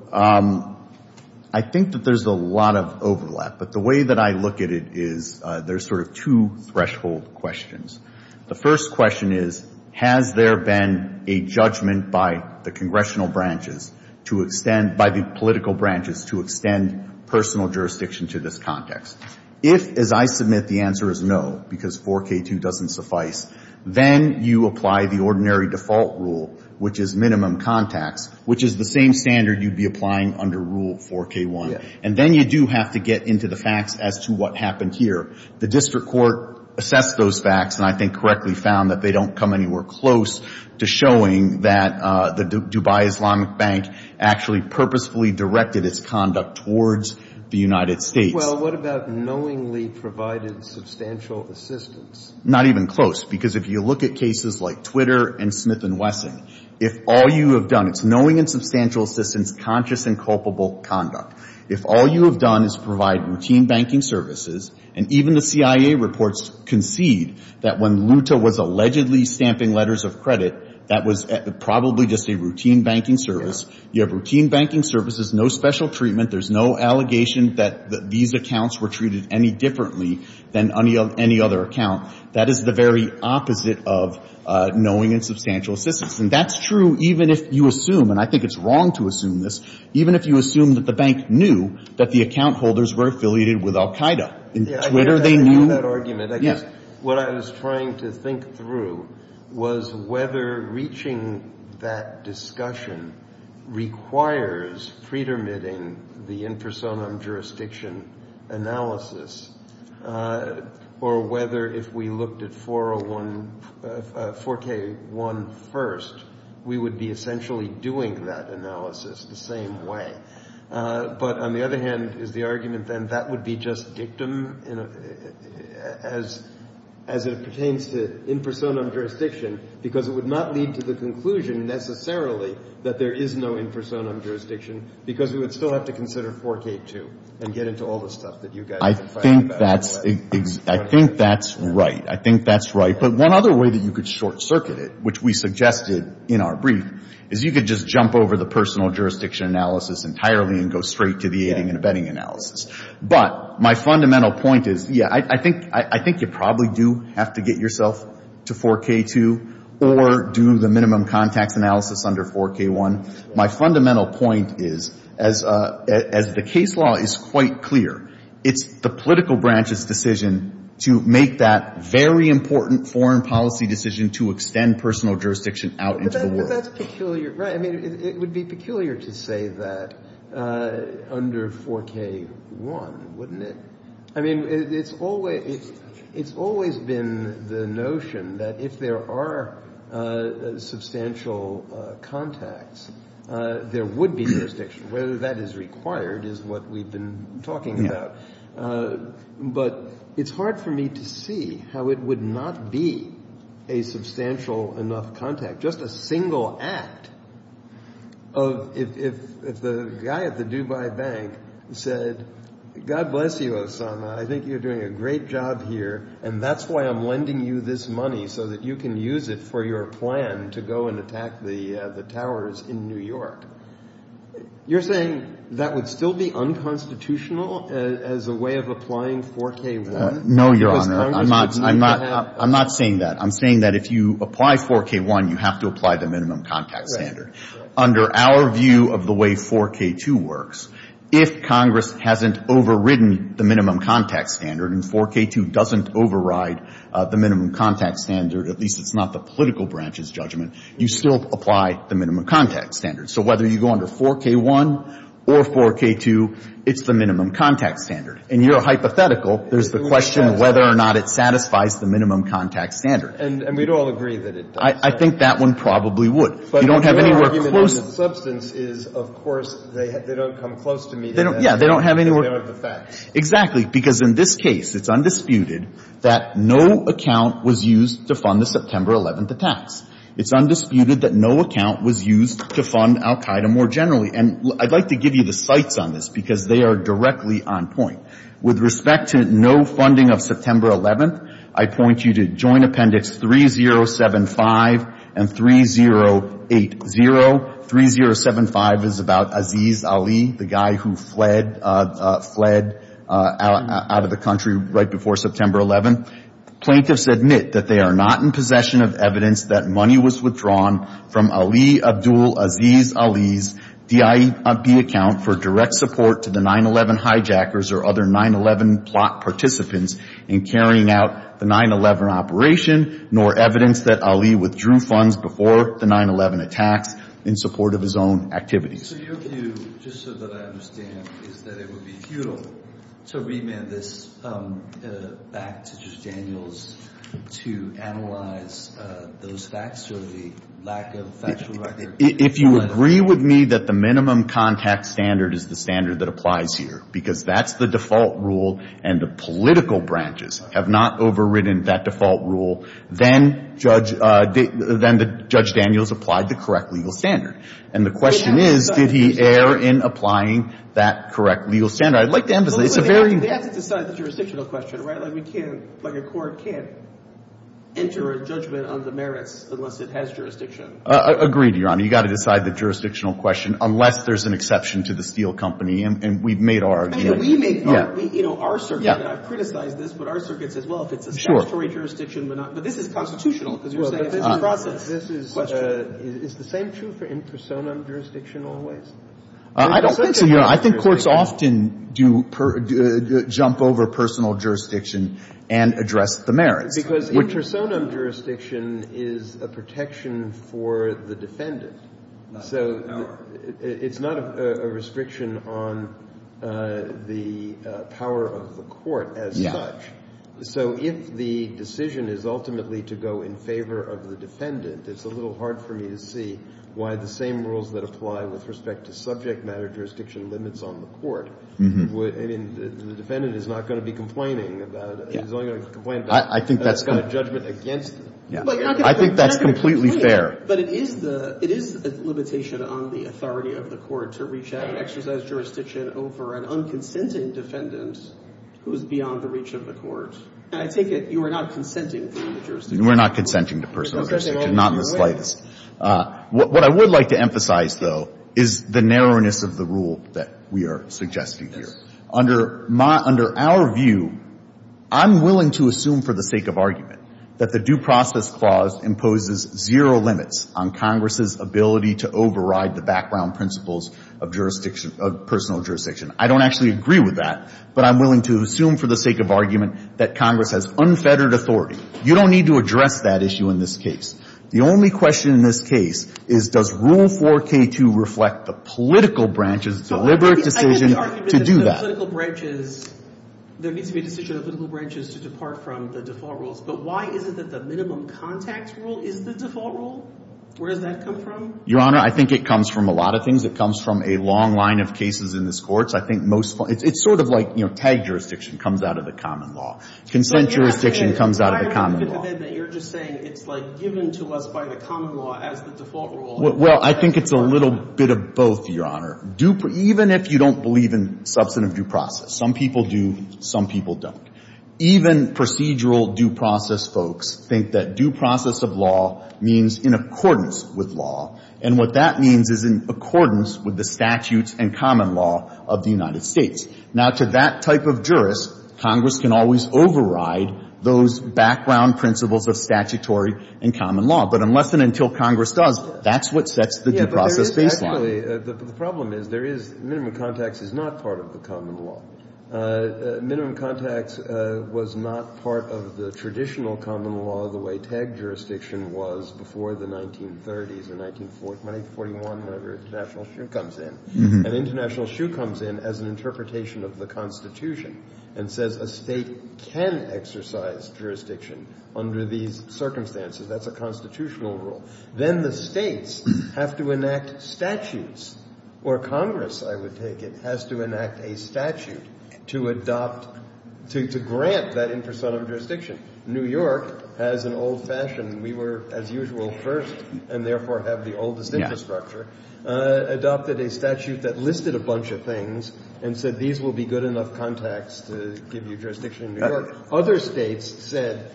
I think that there's a lot of overlap. But the way that I look at it is there's sort of two threshold questions. The first question is, has there been a judgment by the congressional branches to extend – by the political branches to extend personal jurisdiction to this context? If, as I submit, the answer is no because 4K2 doesn't suffice, then you apply the ordinary default rule, which is minimum contacts, which is the same standard you'd be applying under Rule 4K1. And then you do have to get into the facts as to what happened here. The district court assessed those facts and I think correctly found that they don't come anywhere close to showing that the Dubai Islamic Bank actually purposefully directed its conduct towards the United States. Well, what about knowingly provided substantial assistance? Not even close, because if you look at cases like Twitter and Smith & Wesson, if all you have done – it's knowing and substantial assistance, conscious and culpable conduct. If all you have done is provide routine banking services, and even the CIA reports concede that when Luta was allegedly stamping letters of credit, that was probably just a routine banking service. You have routine banking services, no special treatment. There's no allegation that these accounts were treated any differently than any other account. That is the very opposite of knowing and substantial assistance. And that's true even if you assume – and I think it's wrong to assume this – I didn't know that argument. I guess what I was trying to think through was whether reaching that discussion requires pre-dermitting the in personam jurisdiction analysis or whether if we looked at 401 – 4K1 first, we would be essentially doing that analysis the same way. But on the other hand, is the argument then that would be just dictum as it pertains to in personam jurisdiction because it would not lead to the conclusion necessarily that there is no in personam jurisdiction because we would still have to consider 4K2 and get into all the stuff that you guys are fighting about. I think that's – I think that's right. I think that's right. But one other way that you could short circuit it, which we suggested in our brief, is you could just jump over the personal jurisdiction analysis entirely and go straight to the aiding and abetting analysis. But my fundamental point is, yeah, I think you probably do have to get yourself to 4K2 or do the minimum contacts analysis under 4K1. My fundamental point is, as the case law is quite clear, it's the political branch's decision to make that very important foreign policy decision to extend personal jurisdiction out into the world. But that's peculiar. Right. I mean, it would be peculiar to say that under 4K1, wouldn't it? I mean, it's always been the notion that if there are substantial contacts, there would be jurisdiction. Whether that is required is what we've been talking about. But it's hard for me to see how it would not be a substantial enough contact, just a single act of if the guy at the Dubai Bank said, God bless you, Osama, I think you're doing a great job here and that's why I'm lending you this money so that you can use it for your plan to go and attack the towers in New York. You're saying that would still be unconstitutional as a way of applying 4K1? No, Your Honor. I'm not saying that. I'm saying that if you apply 4K1, you have to apply the minimum contact standard. Right. Under our view of the way 4K2 works, if Congress hasn't overridden the minimum contact standard and 4K2 doesn't override the minimum contact standard, at least it's not the political branch's judgment, you still apply the minimum contact standard. So whether you go under 4K1 or 4K2, it's the minimum contact standard. In your hypothetical, there's the question whether or not it satisfies the minimum contact standard. And we'd all agree that it does. I think that one probably would. But your argument on the substance is, of course, they don't come close to meeting the minimum of the facts. Exactly. Because in this case, it's undisputed that no account was used to fund the September 11th attacks. It's undisputed that no account was used to fund al Qaeda more generally. And I'd like to give you the cites on this, because they are directly on point. With respect to no funding of September 11th, I point you to Joint Appendix 3075 and 3080. 3075 is about Aziz Ali, the guy who fled out of the country right before September 11th. Plaintiffs admit that they are not in possession of evidence that money was withdrawn from Ali Abdul Aziz Ali's DIB account for direct support to the 9-11 hijackers or other 9-11 plot participants in carrying out the 9-11 operation, nor evidence that Ali withdrew funds before the 9-11 attacks in support of his own activities. So your view, just so that I understand, is that it would be futile to remand this back to Judge Daniels to analyze those facts or the lack of factual record on the 9-11? If you agree with me that the minimum contact standard is the standard that applies here, because that's the default rule and the political branches have not overridden that default rule, then Judge Daniels applied the correct legal standard. And the question is, did he err in applying that correct legal standard? I'd like to emphasize it's a very – Well, they have to decide the jurisdictional question, right? Like we can't – like a court can't enter a judgment on the merits unless it has jurisdiction. Agreed, Your Honor. You've got to decide the jurisdictional question unless there's an exception to the Steele Company. And we've made our argument. I mean, we made our – you know, our circuit. I've criticized this, but our circuit says, well, if it's a statutory jurisdiction, we're not – but this is constitutional because you're saying it's a process. This is – is the same true for intersonim jurisdiction always? I don't think so, Your Honor. I think courts often do – jump over personal jurisdiction and address the merits. Because intersonim jurisdiction is a protection for the defendant. So it's not a restriction on the power of the court as such. So if the decision is ultimately to go in favor of the defendant, it's a little hard for me to see why the same rules that apply with respect to subject matter jurisdiction limits on the court. I mean, the defendant is not going to be complaining about it. He's only going to complain about – I think that's – About a judgment against them. I think that's completely fair. But it is the – it is a limitation on the authority of the court to reach out and over an unconsenting defendant who is beyond the reach of the court. And I take it you are not consenting to the jurisdiction. We're not consenting to personal jurisdiction, not in the slightest. What I would like to emphasize, though, is the narrowness of the rule that we are suggesting here. Yes. Under my – under our view, I'm willing to assume for the sake of argument that the Due Process Clause imposes zero limits on Congress's ability to override the background principles of jurisdiction – of personal jurisdiction. I don't actually agree with that, but I'm willing to assume for the sake of argument that Congress has unfettered authority. You don't need to address that issue in this case. The only question in this case is, does Rule 4K2 reflect the political branch's deliberate decision to do that? I think the argument is that the political branches – there needs to be a decision of the political branches to depart from the default rules. But why is it that the minimum contact rule is the default rule? Where does that come from? Your Honor, I think it comes from a lot of things. It comes from a long line of cases in this Court. So I think most – it's sort of like, you know, tag jurisdiction comes out of the common law. Consent jurisdiction comes out of the common law. But I don't get the idea that you're just saying it's, like, given to us by the common law as the default rule. Well, I think it's a little bit of both, Your Honor. Even if you don't believe in substantive due process – some people do, some people don't – even procedural due process folks think that due process of law means in accordance with law, and what that means is in accordance with the statutes and common law of the United States. Now, to that type of jurist, Congress can always override those background principles of statutory and common law. But unless and until Congress does, that's what sets the due process baseline. Yeah, but there is actually – the problem is there is – minimum contact is not part of the common law. Minimum contact was not part of the traditional common law the way tag jurisdiction was before the 1930s and 1941, whenever International Shoe comes in. And International Shoe comes in as an interpretation of the Constitution and says a state can exercise jurisdiction under these circumstances. That's a constitutional rule. Then the states have to enact statutes – or Congress, I would take it, has to enact a statute to adopt – to grant that in person of jurisdiction. New York has an old-fashioned – we were, as usual, first and therefore have the oldest infrastructure – adopted a statute that listed a bunch of things and said these will be good enough contacts to give you jurisdiction in New York. Other states said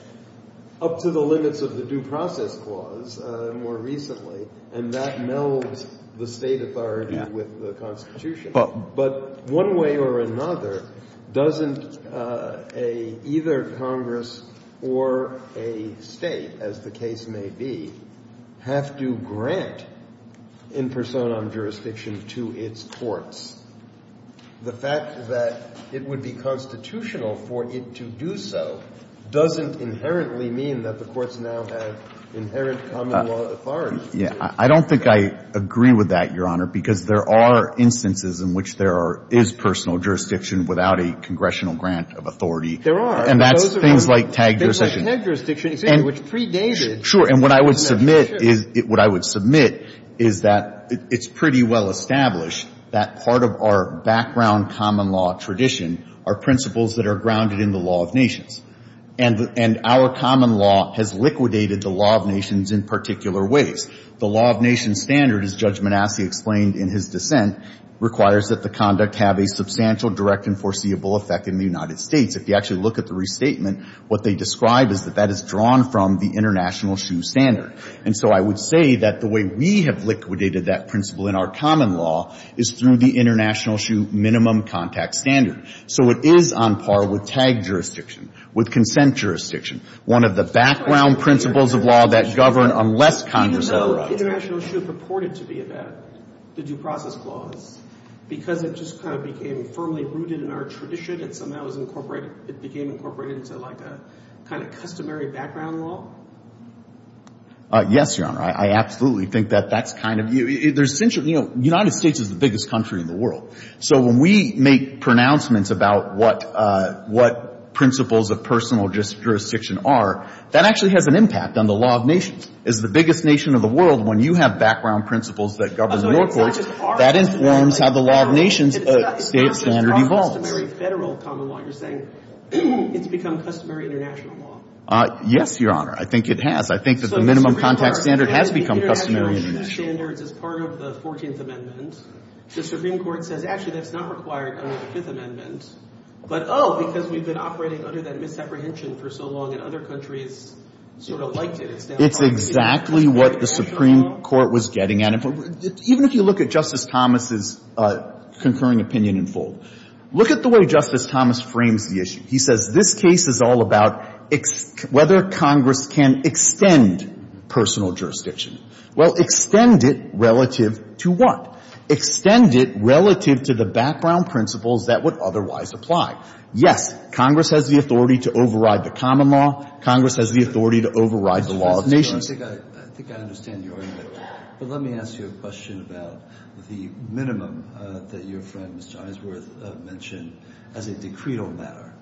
up to the limits of the due process clause more recently, and that melds the state authority with the Constitution. But one way or another, doesn't a – either Congress or a state, as the case may be, have to grant in personam jurisdiction to its courts? The fact that it would be constitutional for it to do so doesn't inherently mean that the courts now have inherent common law authority. I don't think I agree with that, Your Honor, because there are instances in which there is personal jurisdiction without a congressional grant of authority. There are. And that's things like tagged jurisdiction. Things like tagged jurisdiction, excuse me, which predated. Sure. And what I would submit is – what I would submit is that it's pretty well established that part of our background common law tradition are principles that are grounded in the law of nations. And our common law has liquidated the law of nations in particular ways. The law of nations standard, as Judge Manasseh explained in his dissent, requires that the conduct have a substantial direct and foreseeable effect in the United States. If you actually look at the restatement, what they describe is that that is drawn from the international shoe standard. And so I would say that the way we have liquidated that principle in our common law is through the international shoe minimum contact standard. So it is on par with tagged jurisdiction. With consent jurisdiction. One of the background principles of law that govern unless Congress overrides Even though international shoe purported to be a due process clause, because it just kind of became firmly rooted in our tradition, it somehow was incorporated – it became incorporated into, like, a kind of customary background law? Yes, Your Honor. I absolutely think that that's kind of – you know, United States is the biggest country in the world. So when we make pronouncements about what principles of personal jurisdiction are, that actually has an impact on the law of nations. It's the biggest nation of the world. When you have background principles that govern your courts, that informs how the law of nations standard evolves. It's become customary international law. Yes, Your Honor. I think it has. I think that the minimum contact standard has become customary international standards as part of the 14th Amendment. The Supreme Court says, actually, that's not required under the Fifth Amendment. But, oh, because we've been operating under that misapprehension for so long and other countries sort of liked it. It's exactly what the Supreme Court was getting at. Even if you look at Justice Thomas's concurring opinion in full, look at the way Justice Thomas frames the issue. He says this case is all about whether Congress can extend personal jurisdiction. Well, extend it relative to what? Extend it relative to the background principles that would otherwise apply. Yes, Congress has the authority to override the common law. Congress has the authority to override the law of nations. I think I understand your argument. But let me ask you a question about the minimum that your friend, Mr. Isworth, mentioned as a decretal matter.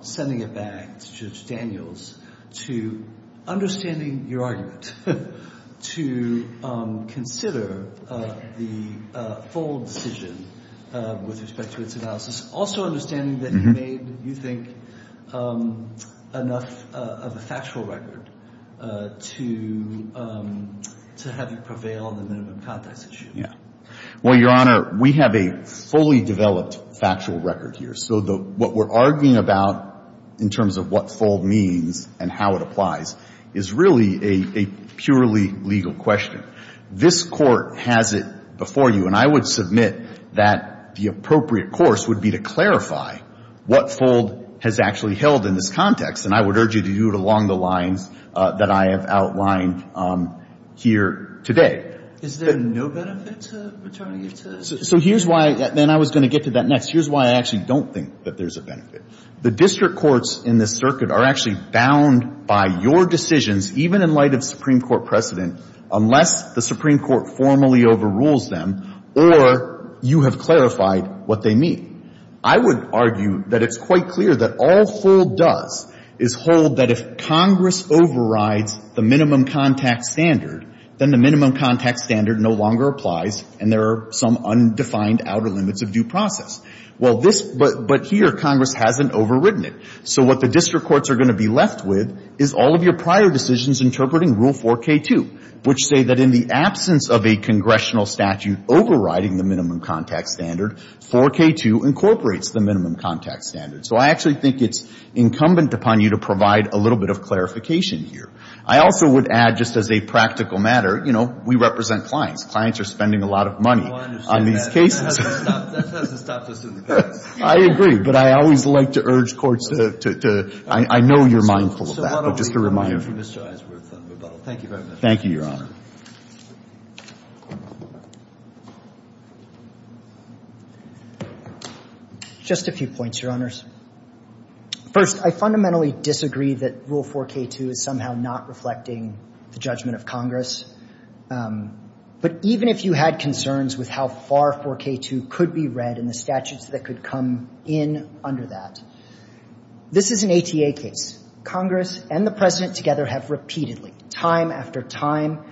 Sending it back to Judge Daniels to understanding your argument, to consider the full decision with respect to its analysis, also understanding that he made, you think, enough of a factual record to have it prevail on the minimum context issue. Well, Your Honor, we have a fully developed factual record here. So what we're arguing about in terms of what full means and how it applies is really a purely legal question. This Court has it before you. And I would submit that the appropriate course would be to clarify what full has actually held in this context. And I would urge you to do it along the lines that I have outlined here today. Is there no benefit to returning it to the Supreme Court? So here's why. And I was going to get to that next. Here's why I actually don't think that there's a benefit. The district courts in this circuit are actually bound by your decisions, even in light of Supreme Court precedent, unless the Supreme Court formally overrules them or you have clarified what they mean. I would argue that it's quite clear that all full does is hold that if Congress overrides the minimum context standard, then the minimum context standard no longer applies and there are some undefined outer limits of due process. Well, this, but here Congress hasn't overridden it. So what the district courts are going to be left with is all of your prior decisions interpreting Rule 4K2, which say that in the absence of a congressional statute overriding the minimum context standard, 4K2 incorporates the minimum context standard. So I actually think it's incumbent upon you to provide a little bit of clarification here. I also would add, just as a practical matter, you know, we represent clients. Clients are spending a lot of money on these cases. That has to stop us in the past. I agree. But I always like to urge courts to, I know you're mindful of that, but just a reminder. Thank you very much. Thank you, Your Honor. Just a few points, Your Honors. First, I fundamentally disagree that Rule 4K2 is somehow not reflecting the judgment of Congress. But even if you had concerns with how far 4K2 could be read and the statutes that could come in under that, this is an ATA case. Congress and the President together have repeatedly, time after time,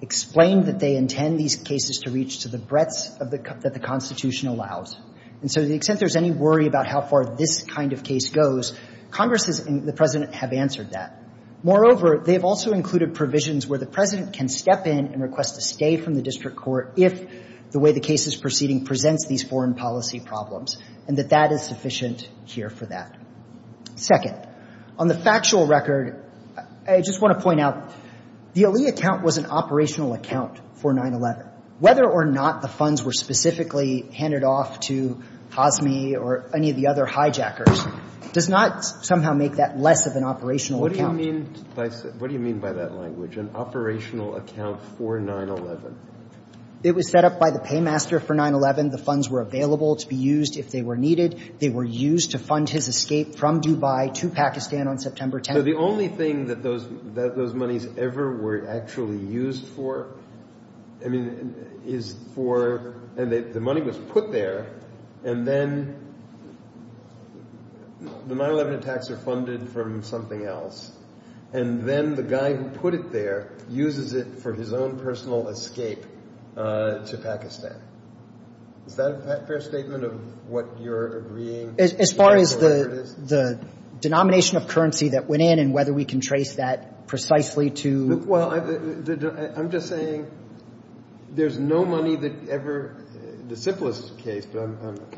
explained that they intend these cases to reach to the breadths that the Constitution allows. And so to the extent there's any worry about how far this kind of case goes, Congress and the President have answered that. Moreover, they have also included provisions where the President can step in and request a stay from the district court if the way the case is proceeding presents these foreign policy problems, and that that is sufficient here for that. Second, on the factual record, I just want to point out, the Ali account was an operational account for 9-11. Whether or not the funds were specifically handed off to Cosme or any of the other hijackers does not somehow make that less of an operational account. What do you mean by that language, an operational account for 9-11? It was set up by the paymaster for 9-11. The funds were available to be used if they were needed. They were used to fund his escape from Dubai to Pakistan on September 10th. So the only thing that those monies ever were actually used for, I mean, is for And the money was put there, and then the 9-11 attacks are funded from something else. And then the guy who put it there uses it for his own personal escape to Pakistan. Is that a fair statement of what you're agreeing? As far as the denomination of currency that went in and whether we can trace that precisely to Well, I'm just saying there's no money that ever, the simplest case, but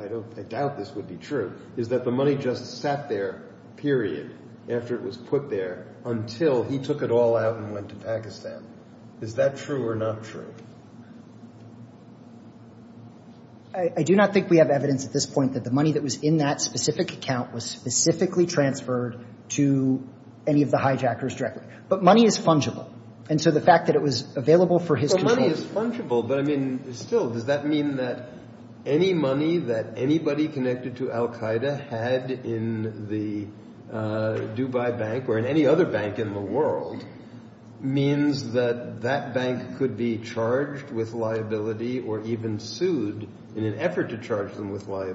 I doubt this would be true, is that the money just sat there, period, after it was put there until he took it all out and went to Pakistan. Is that true or not true? I do not think we have evidence at this point that the money that was in that specific account was specifically transferred to any of the hijackers directly. But money is fungible. And so the fact that it was available for his control Well, money is fungible, but I mean, still, does that mean that any money that anybody connected to Al-Qaeda had in the Dubai Bank or in any other bank in the world means that that bank could be charged with liability or even sued in an effort to charge them with or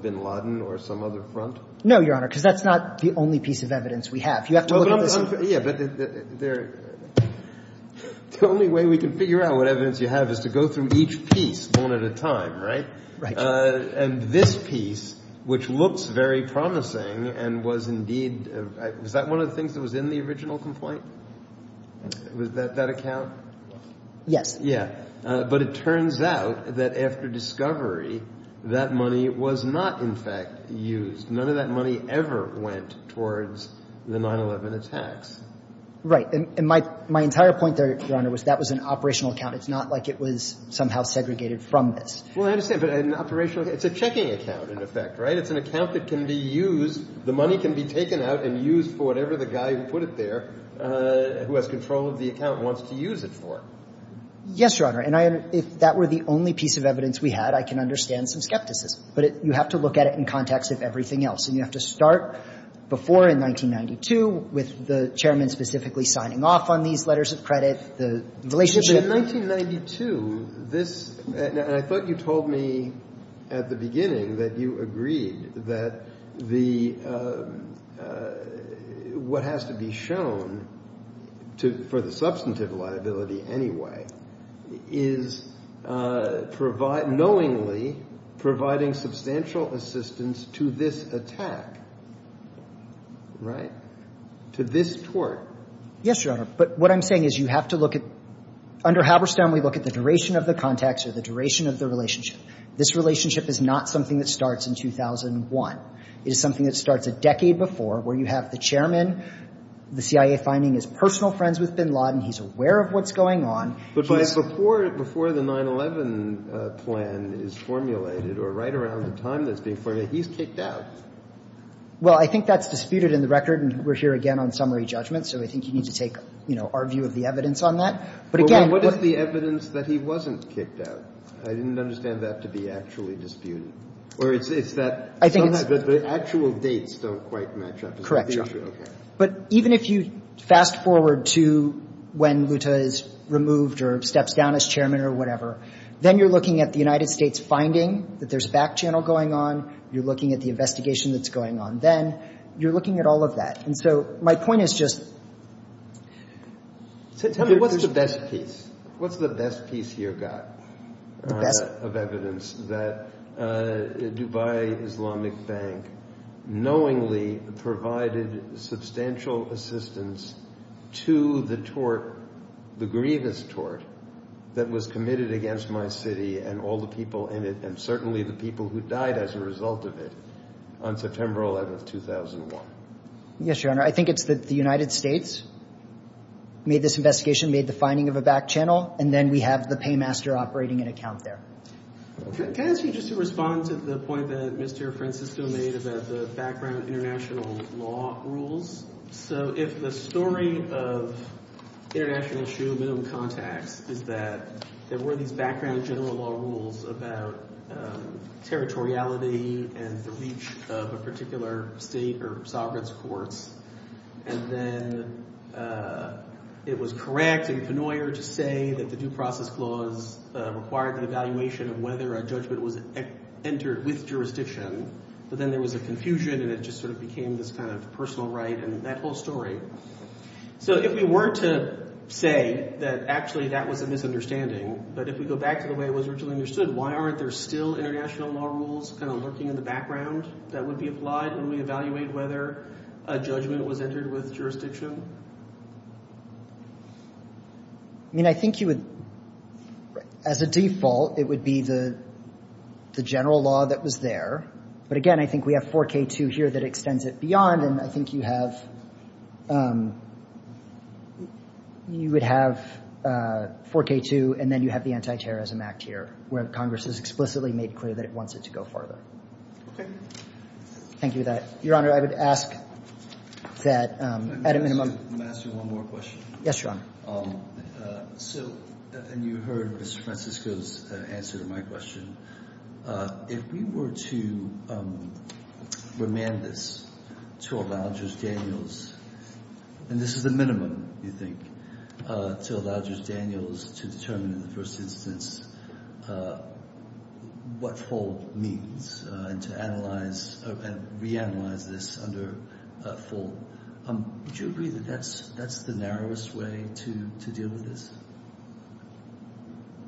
bin Laden or some other front? No, Your Honor, because that's not the only piece of evidence we have. You have to look at this Yeah, but the only way we can figure out what evidence you have is to go through each piece one at a time, right? Right. And this piece, which looks very promising and was indeed, was that one of the things that was in the original complaint? Was that that account? Yes. Yeah. But it turns out that after discovery, that money was not, in fact, used. None of that money ever went towards the 9-11 attacks. Right. And my entire point there, Your Honor, was that was an operational account. It's not like it was somehow segregated from this. Well, I understand, but an operational account. It's a checking account, in effect, right? It's an account that can be used. The money can be taken out and used for whatever the guy who put it there, who has control of the account, wants to use it for. Yes, Your Honor. And if that were the only piece of evidence we had, I can understand some skepticism. But you have to look at it in context of everything else. And you have to start before in 1992 with the chairman specifically signing off on these letters of credit, the relationship. But in 1992, this – and I thought you told me at the beginning that you agreed that the – what has to be shown to – for the substantive liability, anyway, is provide – knowingly providing substantial assistance to this attack. Right? To this tort. Yes, Your Honor. But what I'm saying is you have to look at – under Halberstam, we look at the duration of the contacts or the duration of the relationship. This relationship is not something that starts in 2001. It is something that starts a decade before where you have the chairman, the CIA, finding his personal friends with bin Laden. He's aware of what's going on. But by – But before the 9-11 plan is formulated or right around the time that it's being formulated, he's kicked out. Well, I think that's disputed in the record. And we're here again on summary judgment. So I think you need to take, you know, our view of the evidence on that. But again – But what is the evidence that he wasn't kicked out? I didn't understand that to be actually disputed. Or it's that – I think it's – The actual dates don't quite match up. But even if you fast forward to when Luta is removed or steps down as chairman or whatever, then you're looking at the United States finding that there's back channel going on. You're looking at the investigation that's going on then. You're looking at all of that. And so my point is just – So tell me, what's the best piece? What's the best piece you've got of evidence that Dubai Islamic Bank knowingly provided substantial assistance to the tort, the grievous tort, that was committed against my city and all the people in it and certainly the people who died as a result of it on September 11, 2001? Yes, Your Honor. I think it's that the United States made this investigation, made the finding of a back channel, and then we have the paymaster operating an account there. Can I ask you just to respond to the point that Mr. Francisco made about the background international law rules? So if the story of international human contacts is that there were these background general law rules about territoriality and the reach of a particular state or sovereign's courts, and then it was correct and penoyer to say that the due process clause required the evaluation of whether a judgment was entered with jurisdiction, but then there was a confusion and it just sort of became this kind of personal right and that whole story. So if we were to say that actually that was a misunderstanding, but if we go back to the way it was originally understood, why aren't there still international law rules kind of lurking in the background that would be applied when we evaluate whether a judgment was entered with jurisdiction? I mean, I think you would, as a default, it would be the general law that was there. But, again, I think we have 4K2 here that extends it beyond, and I think you would have 4K2 and then you have the Anti-Terrorism Act here, where Congress has explicitly made clear that it wants it to go farther. Okay. Thank you for that. Your Honor, I would ask that at a minimum. Can I ask you one more question? Yes, Your Honor. So you heard Mr. Francisco's answer to my question. If we were to remand this to allow Judge Daniels, and this is the minimum, you think, to allow Judge Daniels to determine in the first instance what fold means and to analyze and reanalyze this under fold, would you agree that that's the narrowest way to deal with this?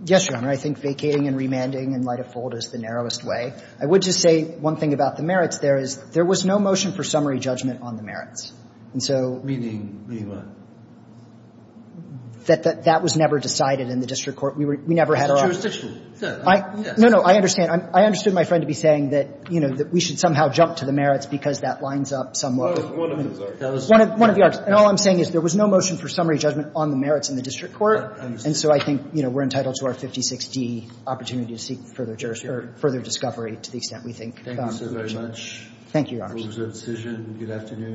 Yes, Your Honor. I think vacating and remanding in light of fold is the narrowest way. I would just say one thing about the merits there is there was no motion for summary judgment on the merits. And so. Meaning what? That that was never decided in the district court. We never had our own. It's jurisdictional. No, no. I understand. I understood my friend to be saying that, you know, that we should somehow jump to the merits because that lines up somewhat. One of those. One of the others. And all I'm saying is there was no motion for summary judgment on the merits in the district court. I understand. And so I think, you know, we're entitled to our 56D opportunity to seek further discovery to the extent we think. Thank you so very much. Thank you, Your Honor. It was a good decision. Good afternoon.